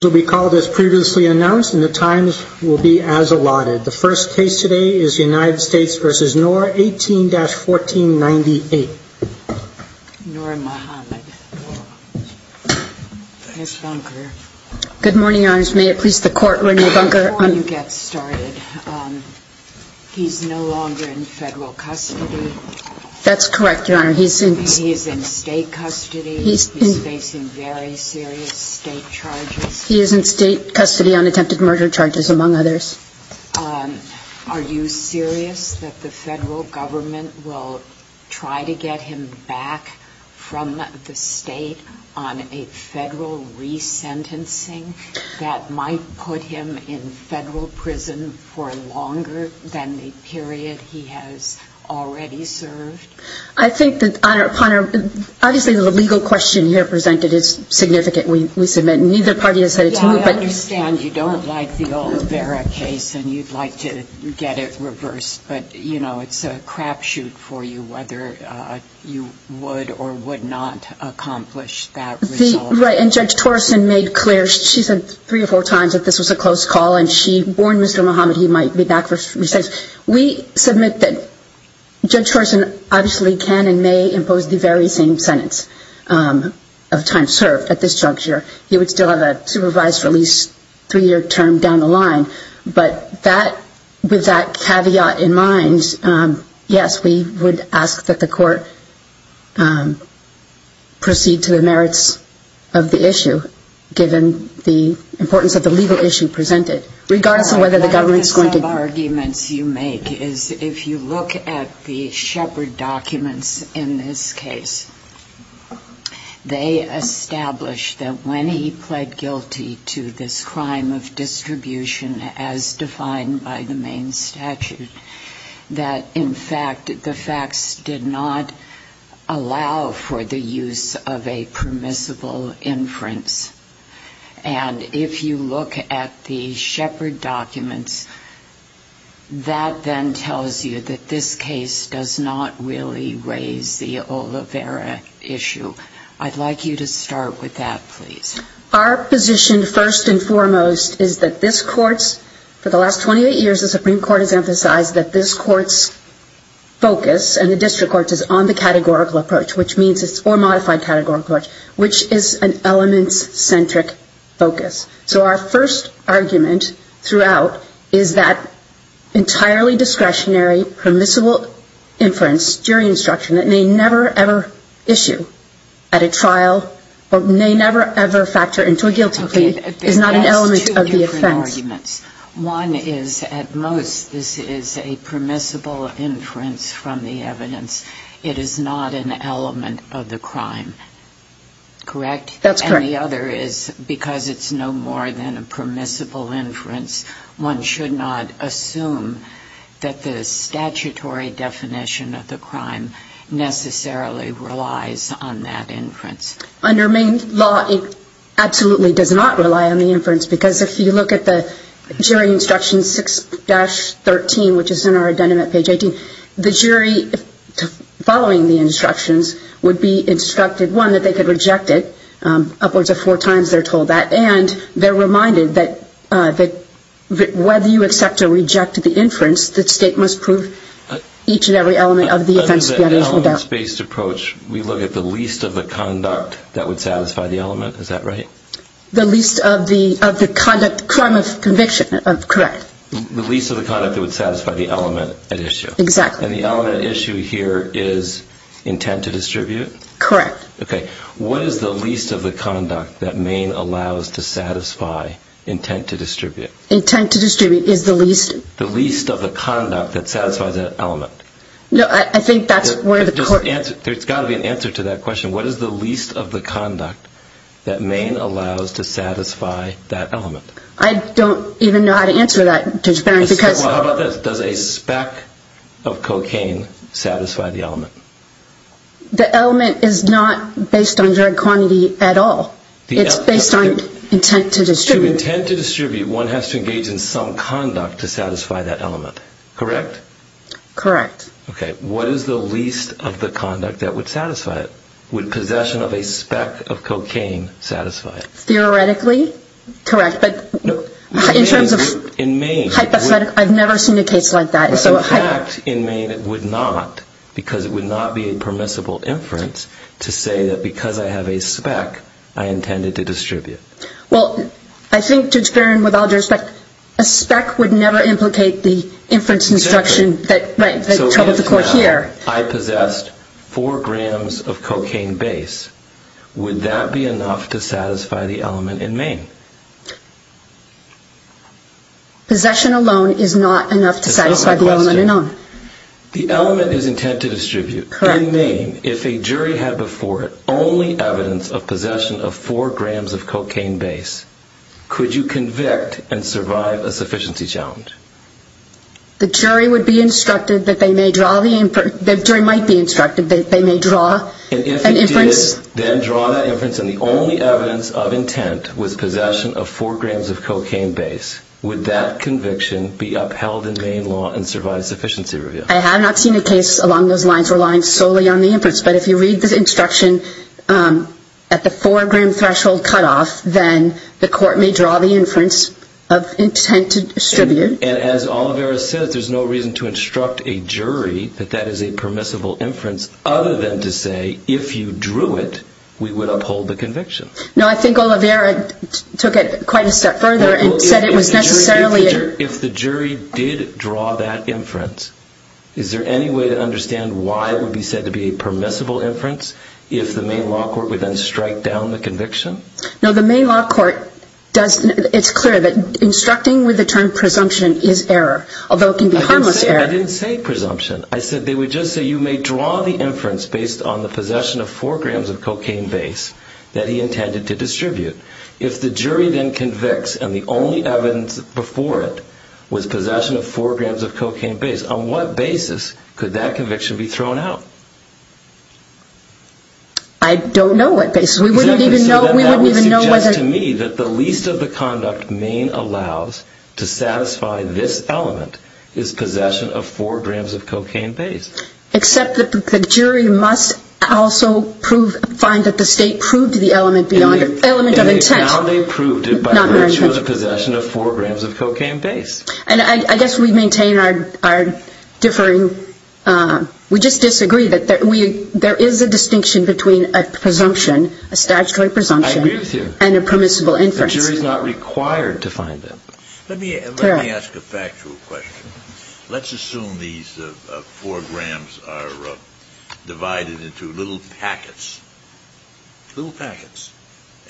This will be called as previously announced and the times will be as allotted. The first case today is United States v. Noor, 18-1498. Noor Mohamed. Ms. Bunker. Good morning, Your Honors. May it please the Court, Renee Bunker. Before you get started, he's no longer in federal custody. That's correct, Your Honor. He is in state custody. He's facing very serious state charges. He is in state custody on attempted murder charges, among others. Are you serious that the federal government will try to get him back from the state on a federal resentencing that might put him in federal prison for longer than the period he has already served? I think that, Your Honor, upon our – obviously, the legal question here presented is significant. We submit neither party has said it's – Yeah, I understand you don't like the old Vera case and you'd like to get it reversed, but, you know, it's a crapshoot for you whether you would or would not accomplish that result. Right, and Judge Torreson made clear – she said three or four times that this was a close call and she warned Mr. Mohamed he might be back for – We submit that Judge Torreson obviously can and may impose the very same sentence of time served at this juncture. He would still have a supervised release three-year term down the line. But that – with that caveat in mind, yes, we would ask that the court proceed to the merits of the issue given the importance of the legal issue presented. Regardless of whether the government's going to – One of the arguments you make is if you look at the Shepard documents in this case, they establish that when he pled guilty to this crime of distribution as defined by the main statute, that, in fact, the facts did not allow for the use of a permissible inference. And if you look at the Shepard documents, that then tells you that this case does not really raise the Olivera issue. I'd like you to start with that, please. Our position, first and foremost, is that this court's – for the last 28 years, the Supreme Court has emphasized that this court's focus and the district court's is on the categorical approach, which means it's – or modified categorical approach, which is an elements-centric focus. So our first argument throughout is that entirely discretionary, permissible inference during instruction that may never, ever issue at a trial or may never, ever factor into a guilty plea is not an element of the offense. Okay. There's two different arguments. One is, at most, this is a permissible inference from the evidence. It is not an element of the crime. Correct? That's correct. And the other is, because it's no more than a permissible inference, one should not assume that the statutory definition of the crime necessarily relies on that inference. Under main law, it absolutely does not rely on the inference, because if you look at the jury instruction 6-13, which is in our Addendum at page 18, the jury, following the instructions, would be instructed, one, that they could reject it. Upwards of four times they're told that. And they're reminded that whether you accept or reject the inference, the state must prove each and every element of the offense. Under the elements-based approach, we look at the least of the conduct that would satisfy the element. Is that right? The least of the conduct – crime of conviction. Correct. The least of the conduct that would satisfy the element at issue. Exactly. And the element at issue here is intent to distribute? Correct. Okay. What is the least of the conduct that main allows to satisfy intent to distribute? Intent to distribute is the least? The least of the conduct that satisfies that element. No, I think that's where the court – There's got to be an answer to that question. What is the least of the conduct that main allows to satisfy that element? I don't even know how to answer that, Judge Barron, because – Well, how about this? Does a speck of cocaine satisfy the element? The element is not based on drug quantity at all. It's based on intent to distribute. To intent to distribute, one has to engage in some conduct to satisfy that element. Correct? Correct. Okay. What is the least of the conduct that would satisfy it? Would possession of a speck of cocaine satisfy it? Theoretically, correct. In terms of hypothetical, I've never seen a case like that. In fact, in main it would not because it would not be a permissible inference to say that because I have a speck, I intended to distribute. Well, I think, Judge Barron, with all due respect, a speck would never implicate the inference instruction that troubled the court here. I possessed four grams of cocaine base. Would that be enough to satisfy the element in main? Possession alone is not enough to satisfy the element in main. The element is intent to distribute. Correct. In main, if a jury had before it only evidence of possession of four grams of cocaine base, could you convict and survive a sufficiency challenge? The jury would be instructed that they may draw the inference. The jury might be instructed that they may draw an inference. And if it did, then draw that inference, and the only evidence of intent was possession of four grams of cocaine base, would that conviction be upheld in main law and survive a sufficiency review? I have not seen a case along those lines relying solely on the inference, but if you read the instruction at the four-gram threshold cutoff, then the court may draw the inference of intent to distribute. And as Olivera says, there's no reason to instruct a jury that that is a permissible inference, other than to say if you drew it, we would uphold the conviction. No, I think Olivera took it quite a step further and said it was necessarily. If the jury did draw that inference, is there any way to understand why it would be said to be a permissible inference if the main law court would then strike down the conviction? No, the main law court doesn't. It's clear that instructing with the term presumption is error, although it can be harmless error. I didn't say presumption. I said they would just say you may draw the inference based on the possession of four grams of cocaine base that he intended to distribute. If the jury then convicts and the only evidence before it was possession of four grams of cocaine base, on what basis could that conviction be thrown out? I don't know what basis. We wouldn't even know. That would suggest to me that the least of the conduct Maine allows to satisfy this element is possession of four grams of cocaine base. Except that the jury must also find that the state proved the element of intent. Now they proved it by virtue of the possession of four grams of cocaine base. I guess we maintain our differing, We just disagree that there is a distinction between a presumption, a statutory presumption, and a permissible inference. I agree with you. The jury is not required to find that. Let me ask a factual question. Let's assume these four grams are divided into little packets. Little packets.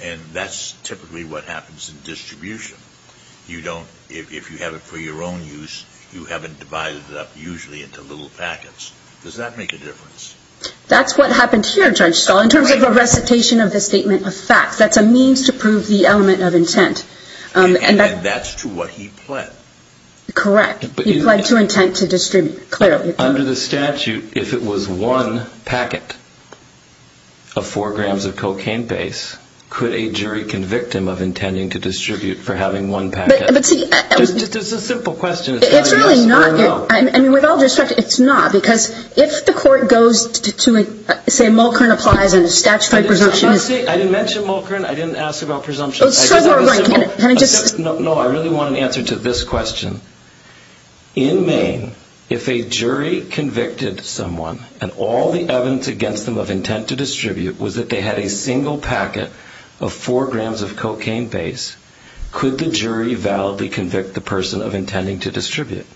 And that's typically what happens in distribution. If you have it for your own use, you haven't divided it up usually into little packets. Does that make a difference? That's what happened here, Judge Stahl, in terms of a recitation of the statement of fact. That's a means to prove the element of intent. And that's to what he pled. Correct. He pled to intent to distribute. Under the statute, if it was one packet of four grams of cocaine base, could a jury convict him of intending to distribute for having one packet? Just a simple question. It's really not. With all due respect, it's not. Because if the court goes to say Mulkerin applies and a statutory presumption is... I didn't mention Mulkerin. I didn't ask about presumptions. Can I just... No, I really want an answer to this question. In Maine, if a jury convicted someone, and all the evidence against them of intent to distribute was that they had a single packet of four grams of cocaine base, could the jury validly convict the person of intending to distribute?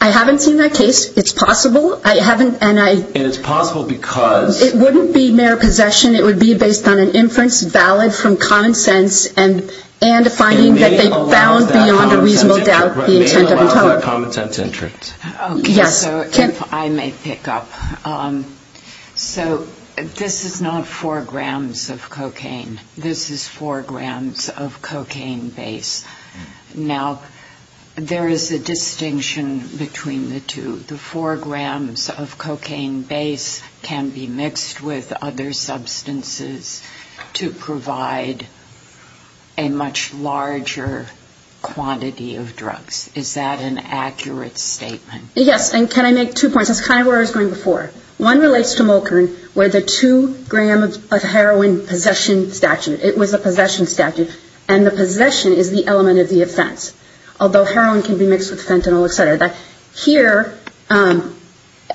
I haven't seen that case. It's possible. I haven't, and I... And it's possible because... It wouldn't be mere possession. It would be based on an inference valid from common sense and a finding that they found beyond a reasonable doubt the intent of the charge. So if I may pick up. So this is not four grams of cocaine. This is four grams of cocaine base. Now, there is a distinction between the two. The four grams of cocaine base can be mixed with other substances to provide a much larger quantity of drugs. Is that an accurate statement? Yes. And can I make two points? That's kind of where I was going before. One relates to Mulkern, where the two-gram of heroin possession statute. It was a possession statute, and the possession is the element of the offense, although heroin can be mixed with fentanyl, et cetera. Here, and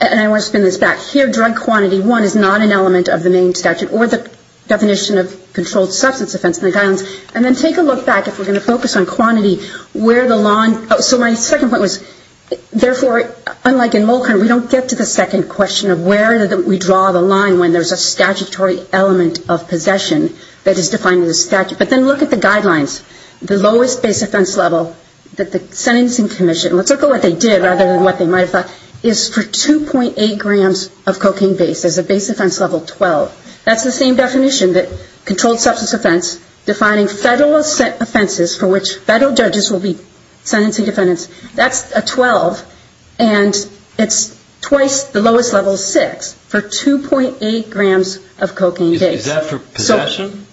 I want to spin this back. Here, drug quantity, one, is not an element of the Maine statute or the definition of controlled substance offense in the guidelines. And then take a look back, if we're going to focus on quantity, where the lawn – so my second point was, therefore, unlike in Mulkern, we don't get to the second question of where we draw the line when there's a statutory element of possession that is defined in the statute. But then look at the guidelines. The lowest base offense level that the sentencing commission – let's look at what they did rather than what they might have thought – is for 2.8 grams of cocaine base. There's a base offense level 12. That's the same definition that controlled substance offense, defining federal offenses for which federal judges will be sentencing defendants. That's a 12, and it's twice the lowest level 6 for 2.8 grams of cocaine base. Is that for possession?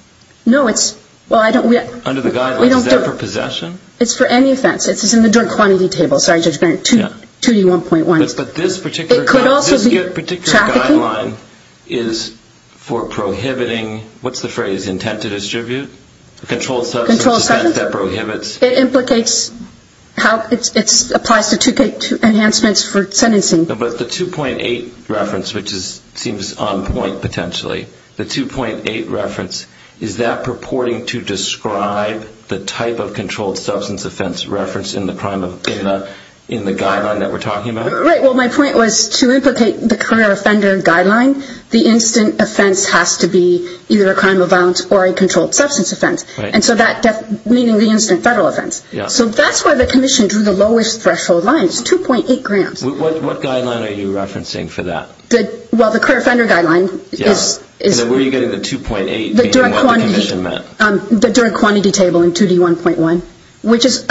No, it's – well, I don't – Under the guidelines, is that for possession? It's for any offense. It's in the drug quantity table. Sorry, Judge Bernard, 2D1.1. But this particular – It could also be trafficking. The guideline is for prohibiting – what's the phrase? Intent to distribute? Controlled substance offense that prohibits – It implicates how – it applies to enhancements for sentencing. But the 2.8 reference, which seems on point potentially, the 2.8 reference, is that purporting to describe the type of controlled substance offense referenced in the crime of – in the guideline that we're talking about? Right. Well, my point was to implicate the career offender guideline, the instant offense has to be either a crime of violence or a controlled substance offense. And so that – meaning the instant federal offense. So that's why the commission drew the lowest threshold line. It's 2.8 grams. What guideline are you referencing for that? Well, the career offender guideline is – And then where are you getting the 2.8 being what the commission meant? The drug quantity table in 2D1.1, which is – In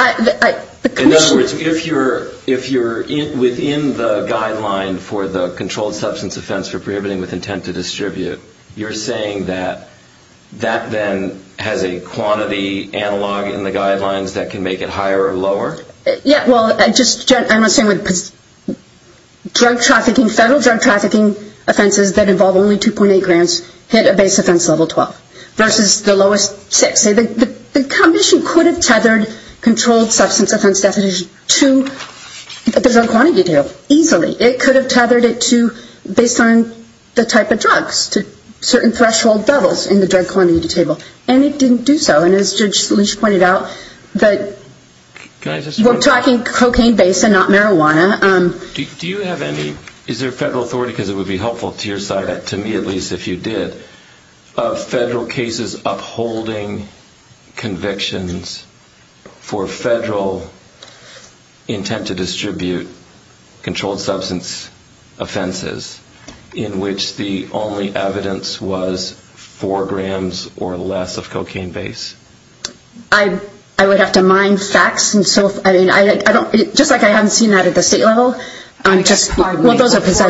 other words, if you're within the guideline for the controlled substance offense for prohibiting with intent to distribute, you're saying that that then has a quantity analog in the guidelines that can make it higher or lower? Yeah, well, I'm just saying with drug trafficking, federal drug trafficking offenses that involve only 2.8 grams hit a base offense level 12 versus the lowest six. I'm just saying the commission could have tethered controlled substance offense definition to the drug quantity table easily. It could have tethered it to based on the type of drugs to certain threshold levels in the drug quantity table. And it didn't do so. And as Judge Salish pointed out, that – Can I just – We're talking cocaine-based and not marijuana. Do you have any – is there a federal authority, because it would be helpful to your side, to me at least if you did, of federal cases upholding convictions for federal intent to distribute controlled substance offenses in which the only evidence was 4 grams or less of cocaine base? I would have to mine facts. And so, I mean, I don't – just like I haven't seen that at the state level. I'm just – Before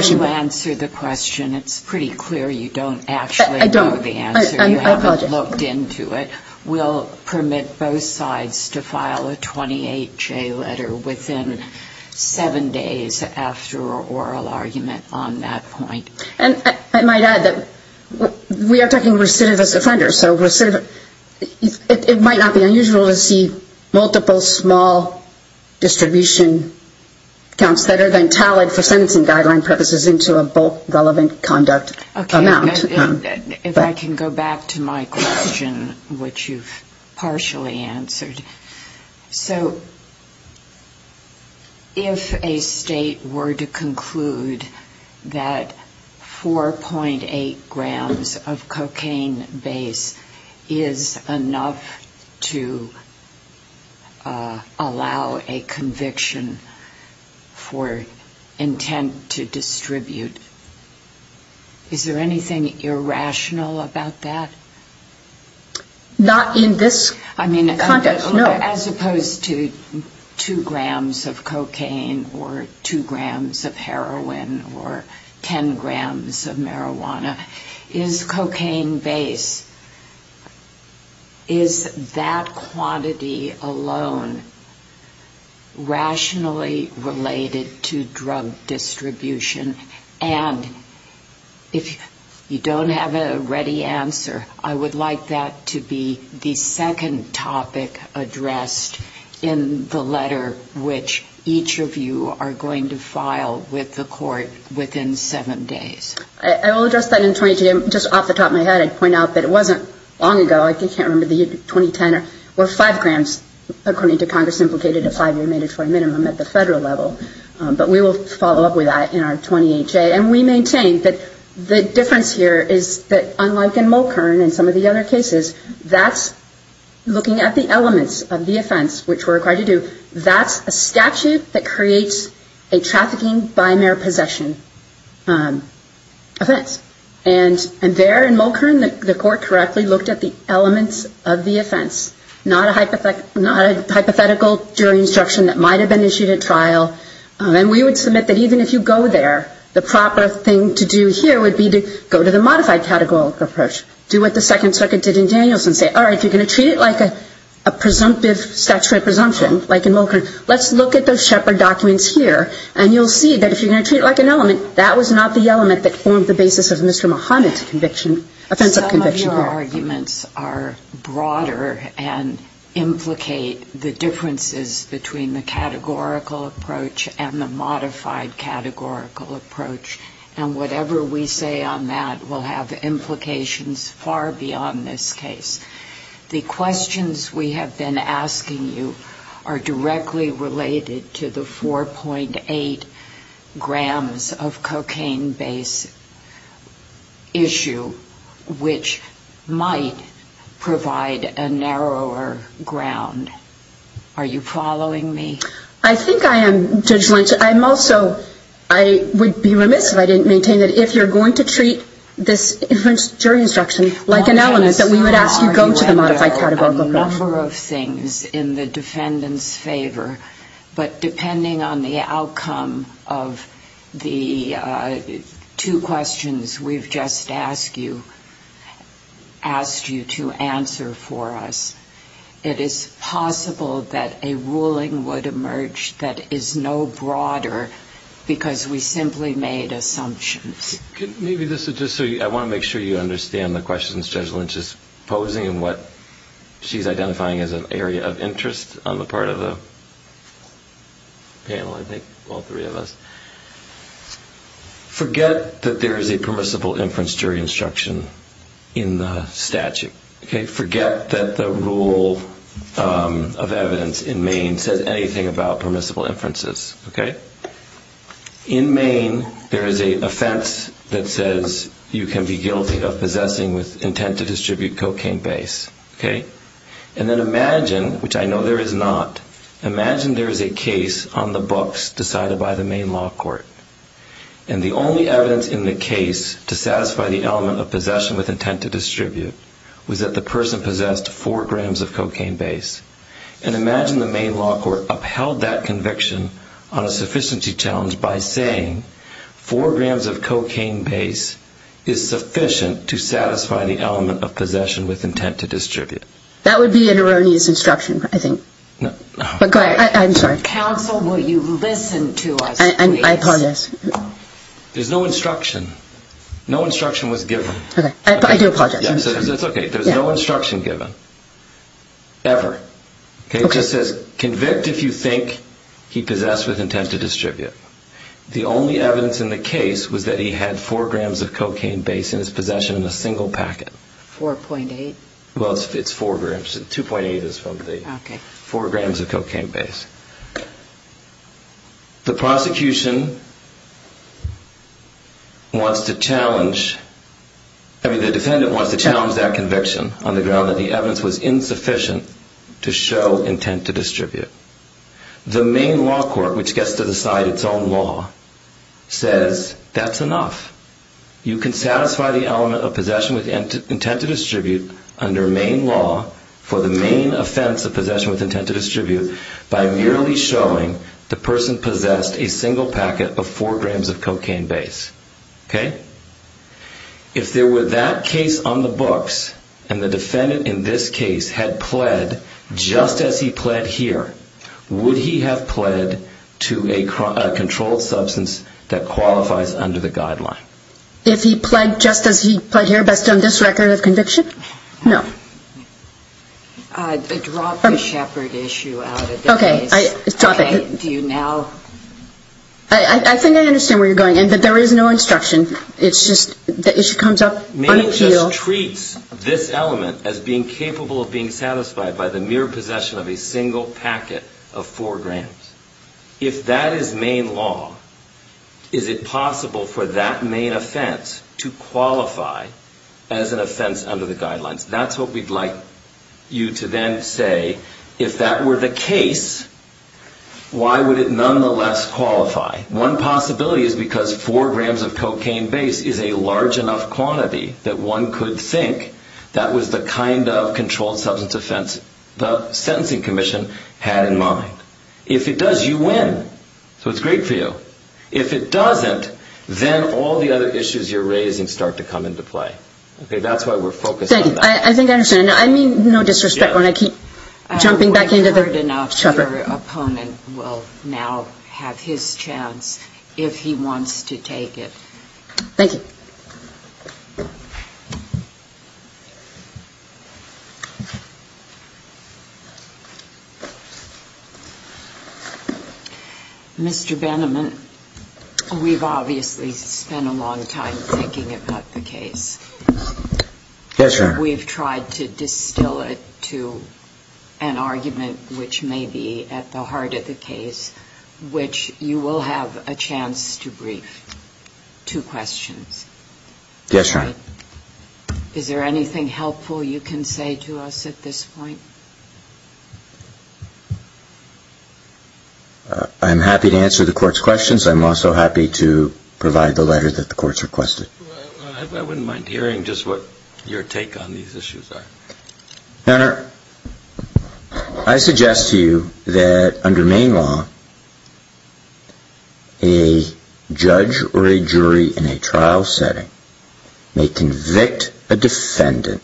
you answer the question, it's pretty clear you don't actually. I don't. I apologize. You haven't looked into it. We'll permit both sides to file a 28-J letter within seven days after oral argument on that point. And I might add that we are talking recidivist offenders, so it might not be unusual to see multiple small distribution counts that are then tallied for sentencing guideline purposes into a bulk relevant conduct amount. If I can go back to my question, which you've partially answered. So if a state were to conclude that 4.8 grams of cocaine base is enough to allow a conviction for intent to distribute, is there anything irrational about that? Not in this context, no. As opposed to 2 grams of cocaine or 2 grams of heroin or 10 grams of marijuana. Is cocaine base, is that quantity alone rationally related to drug distribution? And if you don't have a ready answer, I would like that to be the second topic addressed in the letter which each of you are going to file with the court within seven days. I will address that in 2020. Just off the top of my head, I'd point out that it wasn't long ago. I can't remember the 2010 or 5 grams, according to Congress implicated a five-year mandatory minimum at the federal level. But we will follow up with that in our 20HA. And we maintain that the difference here is that unlike in Mulkern and some of the other cases, that's looking at the elements of the offense which we're required to do. That's a statute that creates a trafficking by mere possession offense. And there in Mulkern, the court correctly looked at the elements of the offense. Not a hypothetical jury instruction that might have been issued at trial. And we would submit that even if you go there, the proper thing to do here would be to go to the modified categorical approach. Do what the second circuit did in Danielson. Say, all right, if you're going to treat it like a presumptive statute of presumption, like in Mulkern, let's look at those Shepherd documents here. And you'll see that if you're going to treat it like an element, that was not the element that formed the basis of Mr. Muhammad's offensive conviction. Some of your arguments are broader and implicate the differences between the categorical approach and the modified categorical approach. And whatever we say on that will have implications far beyond this case. The questions we have been asking you are directly related to the 4.8 grams of cocaine base issue, which might provide a narrower ground. Are you following me? I think I am, Judge Lynch. I'm also, I would be remiss if I didn't maintain that if you're going to treat this jury instruction like an element, that we would ask you go to the modified categorical approach. There are a number of things in the defendant's favor, but depending on the outcome of the two questions we've just asked you to answer for us, it is possible that a ruling would emerge that is no broader because we simply made assumptions. Maybe this is just so I want to make sure you understand the questions Judge Lynch is posing and what she's identifying as an area of interest on the part of the panel, I think, all three of us. Forget that there is a permissible inference jury instruction in the statute. Forget that the rule of evidence in Maine says anything about permissible inferences. In Maine there is an offense that says you can be guilty of possessing with intent to distribute cocaine base. And then imagine, which I know there is not, imagine there is a case on the books decided by the Maine law court. And the only evidence in the case to satisfy the element of possession with intent to distribute was that the person possessed four grams of cocaine base. And imagine the Maine law court upheld that conviction on a sufficiency challenge by saying four grams of cocaine base is sufficient to satisfy the element of possession with intent to distribute. That would be an erroneous instruction, I think. No. I'm sorry. Counsel, will you listen to us, please? I apologize. There's no instruction. No instruction was given. I do apologize. It's okay. There's no instruction given. Ever. Okay. It just says convict if you think he possessed with intent to distribute. The only evidence in the case was that he had four grams of cocaine base in his possession in a single packet. 4.8. Well, it's four grams. 2.8 is probably. Okay. Four grams of cocaine base. The prosecution wants to challenge, I mean, the defendant wants to challenge that conviction on the ground that the evidence was insufficient to show intent to distribute. The Maine law court, which gets to decide its own law, says that's enough. You can satisfy the element of possession with intent to distribute under Maine law for the Maine offense of possession with intent to distribute by merely showing the person possessed a single packet of four grams of cocaine base. Okay? If there were that case on the books and the defendant in this case had pled just as he pled here, would he have pled to a controlled substance that qualifies under the guideline? If he pled just as he pled here based on this record of conviction? No. Drop the shepherd issue out of the case. Okay. Stop it. Do you now? I think I understand where you're going in, but there is no instruction. It's just the issue comes up on appeal. Maine just treats this element as being capable of being satisfied by the mere possession of a single packet of four grams. If that is Maine law, is it possible for that Maine offense to qualify as an offense under the guidelines? That's what we'd like you to then say. If that were the case, why would it nonetheless qualify? One possibility is because four grams of cocaine base is a large enough quantity that one could think that was the kind of controlled substance offense the sentencing commission had in mind. If it does, you win. So it's great for you. If it doesn't, then all the other issues you're raising start to come into play. Okay? That's why we're focused on that. Thank you. I think I understand. I mean no disrespect when I keep jumping back into the shepherd. We've heard enough. Your opponent will now have his chance if he wants to take it. Thank you. Mr. Benneman, we've obviously spent a long time thinking about the case. Yes, ma'am. We've tried to distill it to an argument which may be at the heart of the case, which you will have a chance to brief. Two questions. Yes, Your Honor. Is there anything helpful you can say to us at this point? I'm happy to answer the court's questions. I'm also happy to provide the letter that the court's requested. I wouldn't mind hearing just what your take on these issues are. Your Honor, I suggest to you that under Maine law, a judge or a jury in a trial setting may convict a defendant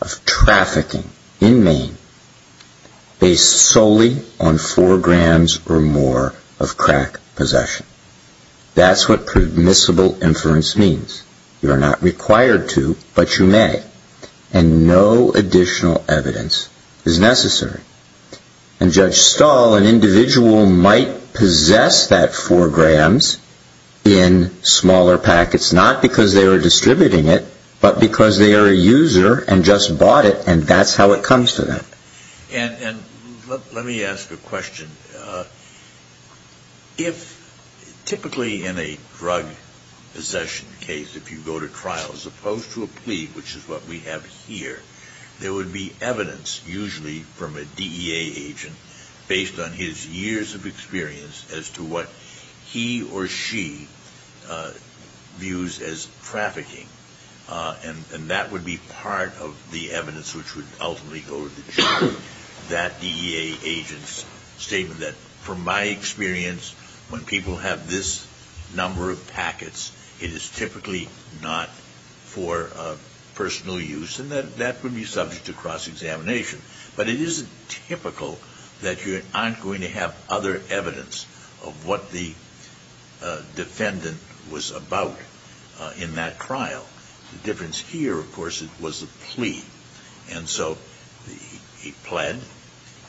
of trafficking in Maine based solely on four grams or more of crack possession. That's what permissible inference means. You're not required to, but you may. And no additional evidence is necessary. And Judge Stahl, an individual might possess that four grams in smaller packets, not because they were distributing it, but because they are a user and just bought it and that's how it comes to them. And let me ask a question. If typically in a drug possession case, if you go to trial, as opposed to a plea, which is what we have here, there would be evidence usually from a DEA agent based on his years of experience as to what he or she views as trafficking. And that would be part of the evidence which would ultimately go to the jury. That DEA agent's statement that, from my experience, when people have this number of packets, it is typically not for personal use and that would be subject to cross-examination. But it isn't typical that you aren't going to have other evidence of what the defendant was about in that trial. The difference here, of course, was the plea. And so he pled.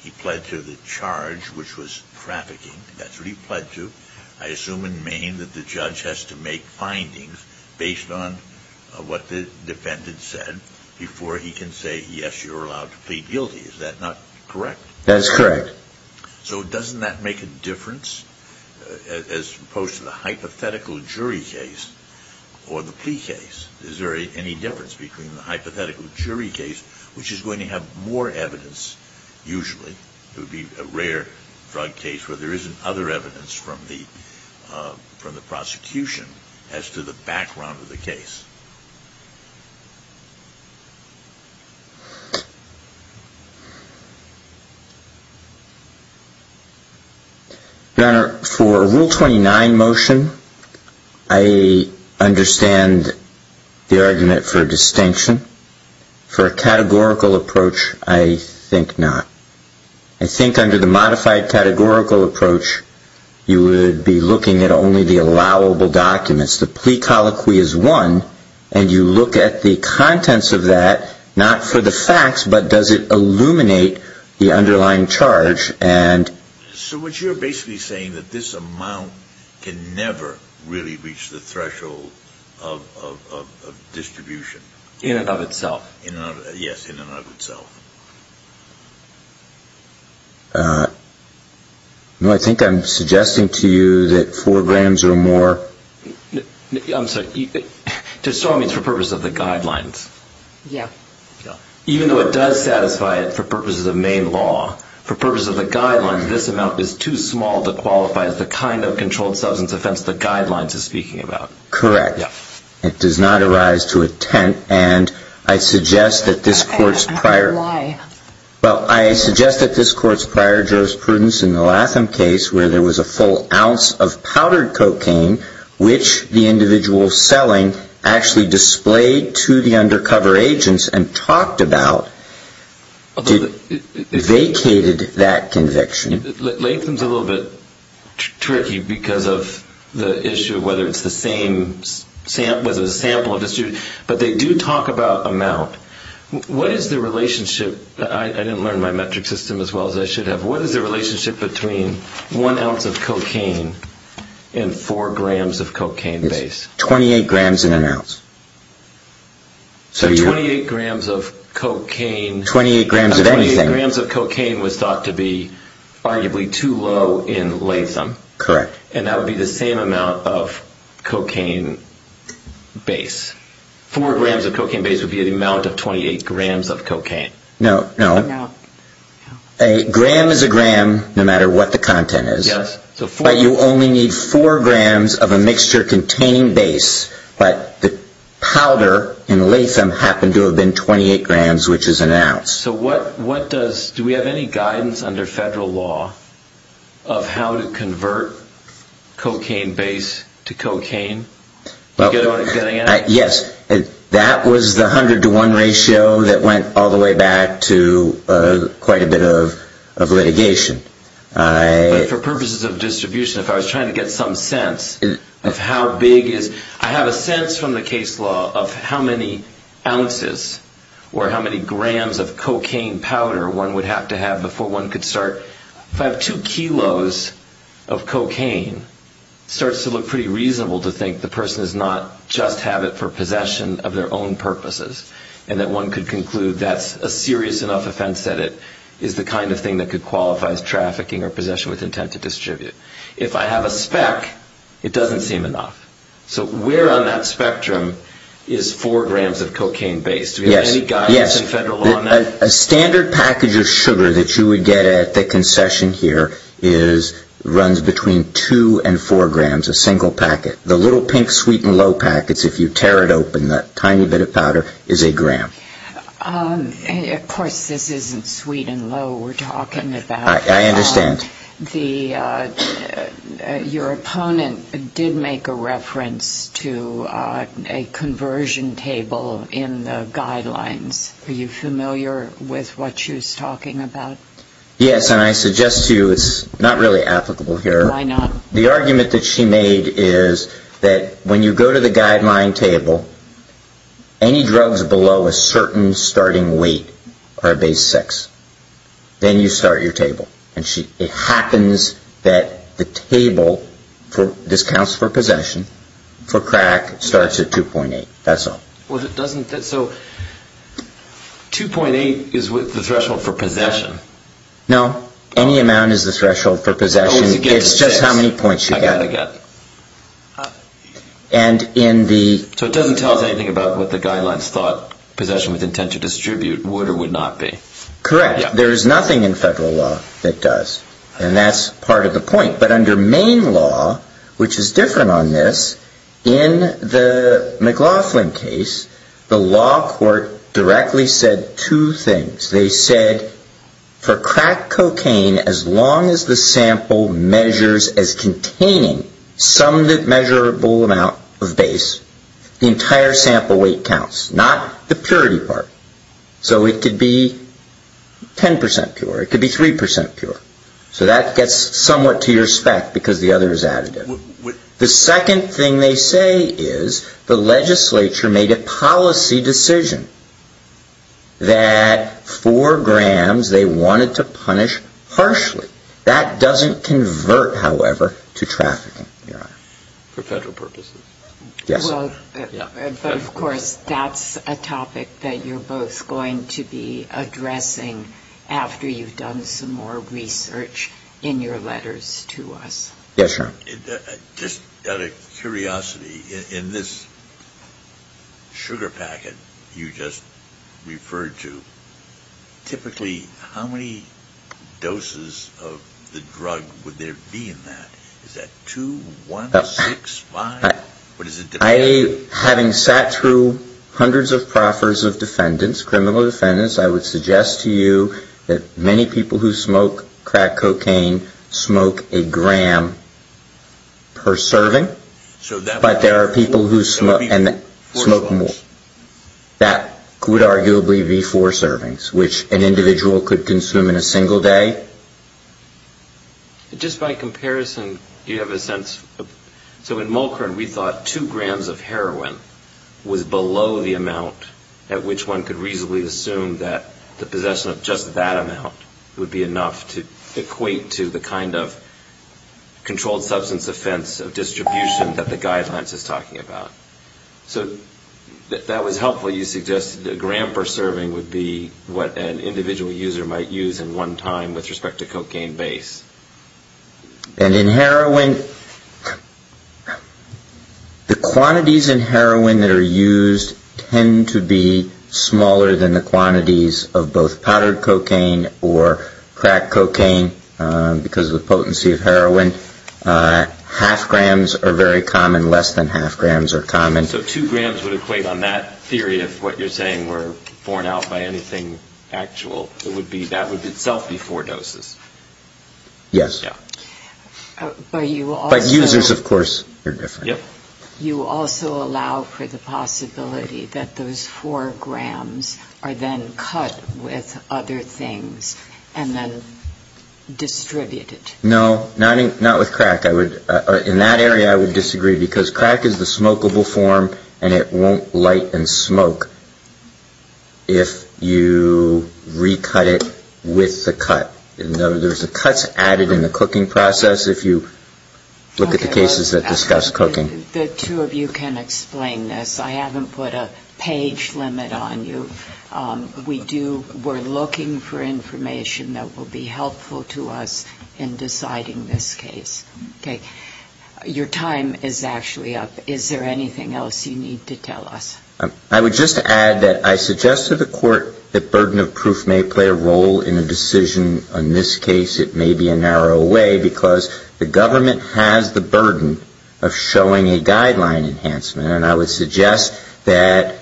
He pled to the charge, which was trafficking. That's what he pled to. I assume in Maine that the judge has to make findings based on what the defendant said before he can say, yes, you're allowed to plead guilty. Is that not correct? That's correct. So doesn't that make a difference as opposed to the hypothetical jury case or the plea case? Is there any difference between the hypothetical jury case, which is going to have more evidence usually, it would be a rare drug case where there isn't other evidence from the prosecution as to the background of the case. Your Honor, for a Rule 29 motion, I understand the argument for a distinction. For a categorical approach, I think not. I think under the modified categorical approach, you would be looking at only the allowable documents. The plea colloquy is one. And you look at the contents of that, not for the facts, but does it illuminate the underlying charge? So what you're basically saying is that this amount can never really reach the threshold of distribution? In and of itself. Yes, in and of itself. No, I think I'm suggesting to you that four grams or more. I'm sorry. To some, it's for purposes of the guidelines. Yeah. Even though it does satisfy it for purposes of main law, for purposes of the guidelines, this amount is too small to qualify as the kind of controlled substance offense the guidelines are speaking about. Correct. Yeah. It does not arise to intent. And I suggest that this Court's prior. Why? Well, I suggest that this Court's prior jurisprudence in the Latham case, where there was a full ounce of powdered cocaine, which the individual selling actually displayed to the undercover agents and talked about, vacated that conviction. Latham's a little bit tricky because of the issue of whether it's the same sample of distribution. But they do talk about amount. What is the relationship? I didn't learn my metric system as well as I should have. What is the relationship between one ounce of cocaine and four grams of cocaine base? It's 28 grams in an ounce. So 28 grams of cocaine. 28 grams of anything. 28 grams of cocaine was thought to be arguably too low in Latham. Correct. And that would be the same amount of cocaine base. Four grams of cocaine base would be the amount of 28 grams of cocaine. No. No. A gram is a gram no matter what the content is. Yes. But you only need four grams of a mixture containing base. But the powder in Latham happened to have been 28 grams, which is an ounce. Do we have any guidance under federal law of how to convert cocaine base to cocaine? Yes. That was the 100 to 1 ratio that went all the way back to quite a bit of litigation. But for purposes of distribution, if I was trying to get some sense of how big is... I have a sense from the case law of how many ounces or how many grams of cocaine powder one would have to have before one could start... If I have two kilos of cocaine, it starts to look pretty reasonable to think the person does not just have it for possession of their own purposes and that one could conclude that's a serious enough offense that it is the kind of thing that could qualify as trafficking or possession with intent to distribute. If I have a spec, it doesn't seem enough. So where on that spectrum is four grams of cocaine base? Do we have any guidance in federal law on that? Yes. A standard package of sugar that you would get at the concession here runs between two and four grams, a single packet. The little pink sweet and low packets, if you tear it open, that tiny bit of powder is a gram. Of course, this isn't sweet and low we're talking about. I understand. Your opponent did make a reference to a conversion table in the guidelines. Are you familiar with what she was talking about? Yes, and I suggest to you it's not really applicable here. Why not? The argument that she made is that when you go to the guideline table, any drugs below a certain starting weight are base six. Then you start your table. It happens that the table, this counts for possession, for crack starts at 2.8. That's all. So 2.8 is the threshold for possession? No. Any amount is the threshold for possession. It's just how many points you get. So it doesn't tell us anything about what the guidelines thought possession with intent to distribute would or would not be. Correct. There is nothing in federal law that does, and that's part of the point. But under main law, which is different on this, in the McLaughlin case, the law court directly said two things. They said for crack cocaine, as long as the sample measures as containing some measurable amount of base, the entire sample weight counts, not the purity part. So it could be 10% pure. It could be 3% pure. So that gets somewhat to your spec because the other is additive. The second thing they say is the legislature made a policy decision that four grams they wanted to punish harshly. That doesn't convert, however, to trafficking. For federal purposes? Yes. But, of course, that's a topic that you're both going to be addressing after you've done some more research in your letters to us. Yes, sir. Just out of curiosity, in this sugar packet you just referred to, typically how many doses of the drug would there be in that? Is that two, one, six, five? Having sat through hundreds of proffers of defendants, criminal defendants, I would suggest to you that many people who smoke crack cocaine smoke a gram per serving. But there are people who smoke more. That would arguably be four servings, which an individual could consume in a single day. Just by comparison, do you have a sense? So in Mulkern, we thought two grams of heroin was below the amount at which one could reasonably assume that the possession of just that amount would be enough to equate to the kind of controlled substance offense of distribution that the guidelines is talking about. So that was helpful. You suggested a gram per serving would be what an individual user might use in one time with respect to cocaine base. And in heroin, the quantities in heroin that are used tend to be smaller than the quantities of both powdered cocaine or crack cocaine because of the potency of heroin. Half grams are very common. Less than half grams are common. So two grams would equate on that theory of what you're saying were borne out by anything actual. That would itself be four doses. Yes. But users, of course, are different. You also allow for the possibility that those four grams are then cut with other things and then distributed. No, not with crack. In that area, I would disagree because crack is the smokable form and it won't light and smoke if you recut it with the cut. There's cuts added in the cooking process if you look at the cases that discuss cooking. The two of you can explain this. I haven't put a page limit on you. We're looking for information that will be helpful to us in deciding this case. Okay. Your time is actually up. Is there anything else you need to tell us? I would just add that I suggest to the Court that burden of proof may play a role in a decision. In this case, it may be a narrow way because the government has the burden of showing a guideline enhancement. And I would suggest that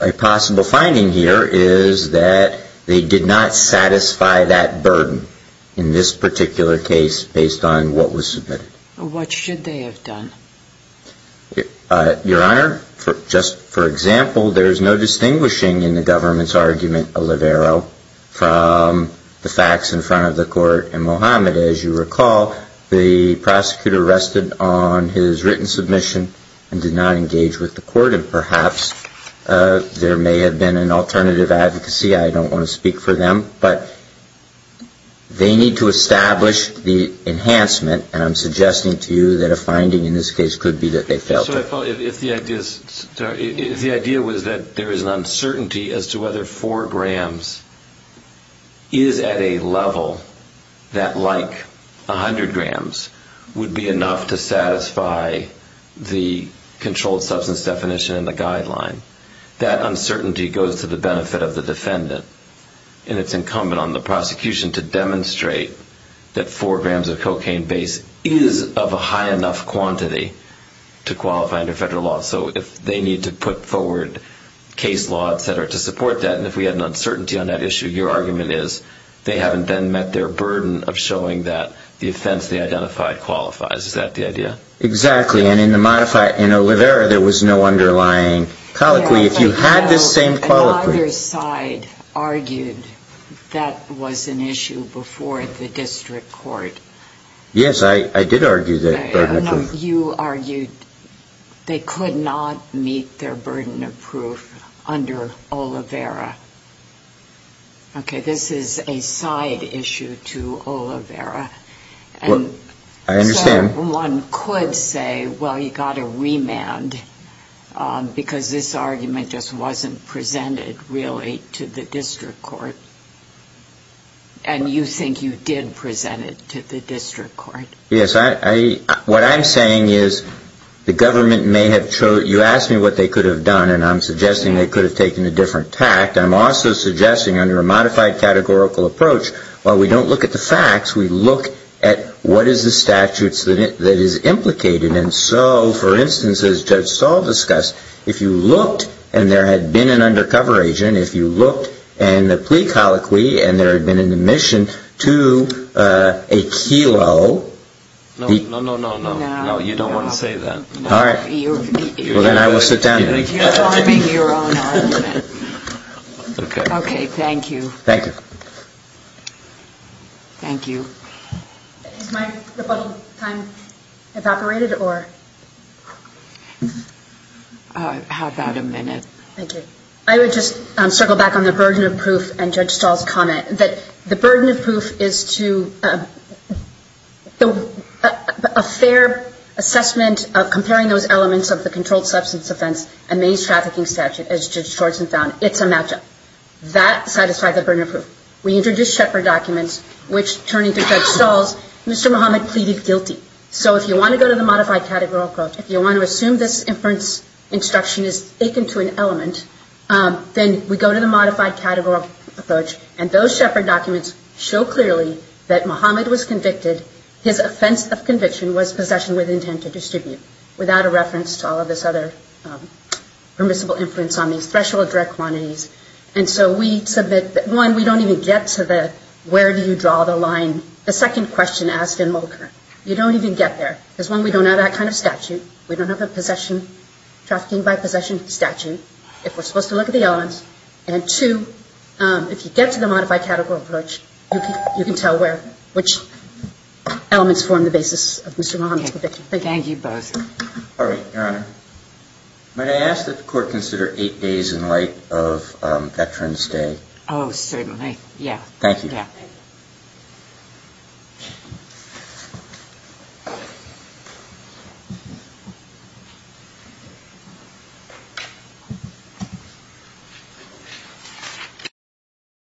a possible finding here is that they did not satisfy that burden in this particular case based on what was submitted. What should they have done? Your Honor, just for example, there is no distinguishing in the government's argument, Olivero, from the facts in front of the Court. And, Mohammed, as you recall, the prosecutor rested on his written submission and did not engage with the Court. And perhaps there may have been an alternative advocacy. I don't want to speak for them. But they need to establish the enhancement. And I'm suggesting to you that a finding in this case could be that they failed to. The idea was that there is an uncertainty as to whether 4 grams is at a level that, like 100 grams, would be enough to satisfy the controlled substance definition in the guideline. That uncertainty goes to the benefit of the defendant. And it's incumbent on the prosecution to demonstrate that 4 grams of cocaine base is of a high enough quantity to qualify under federal law. So they need to put forward case law, et cetera, to support that. And if we had an uncertainty on that issue, your argument is they haven't then met their burden of showing that the offense they identified qualifies. Is that the idea? Exactly. And in Olivera, there was no underlying colloquy. If you had the same colloquy. Another side argued that was an issue before the District Court. Yes, I did argue that burden of proof. You argued they could not meet their burden of proof under Olivera. Okay. This is a side issue to Olivera. I understand. One could say, well, you've got to remand, because this argument just wasn't presented, really, to the District Court. And you think you did present it to the District Court. Yes. What I'm saying is the government may have chosen. You asked me what they could have done, and I'm suggesting they could have taken a different tact. I'm also suggesting under a modified categorical approach, while we don't look at the facts, we look at what is the statutes that is implicated. And so, for instance, as Judge Saul discussed, if you looked and there had been an undercover agent, if you looked in the plea colloquy and there had been an admission to a kilo. No, no, no, no, no. No, you don't want to say that. All right. Well, then I will sit down. You're making your own argument. Okay. Okay, thank you. Thank you. Thank you. Is my rebuttal time evaporated, or? How about a minute? Thank you. I would just circle back on the burden of proof and Judge Saul's comment, that the burden of proof is to a fair assessment of comparing those elements of the controlled substance offense and maize trafficking statute, as Judge Schwartzman found. It's a match-up. That satisfied the burden of proof. We introduced Shepard documents, which, turning to Judge Saul's, Mr. Muhammad pleaded guilty. So if you want to go to the modified categorical approach, if you want to assume this inference instruction is akin to an element, then we go to the modified categorical approach, and those Shepard documents show clearly that Muhammad was convicted. His offense of conviction was possession with intent to distribute, without a reference to all of this other permissible influence on these threshold direct quantities. And so we submit that, one, we don't even get to the where do you draw the line, the second question asked in Mulker. You don't even get there. Because, one, we don't have that kind of statute. We don't have a possession, trafficking by possession statute, if we're supposed to look at the elements. And, two, if you get to the modified categorical approach, you can tell which elements form the basis of Mr. Muhammad's conviction. Thank you. Thank you both. All right, Your Honor. May I ask that the Court consider eight days in light of Veterans Day? Oh, certainly. Yeah. Thank you. Yeah. Thank you.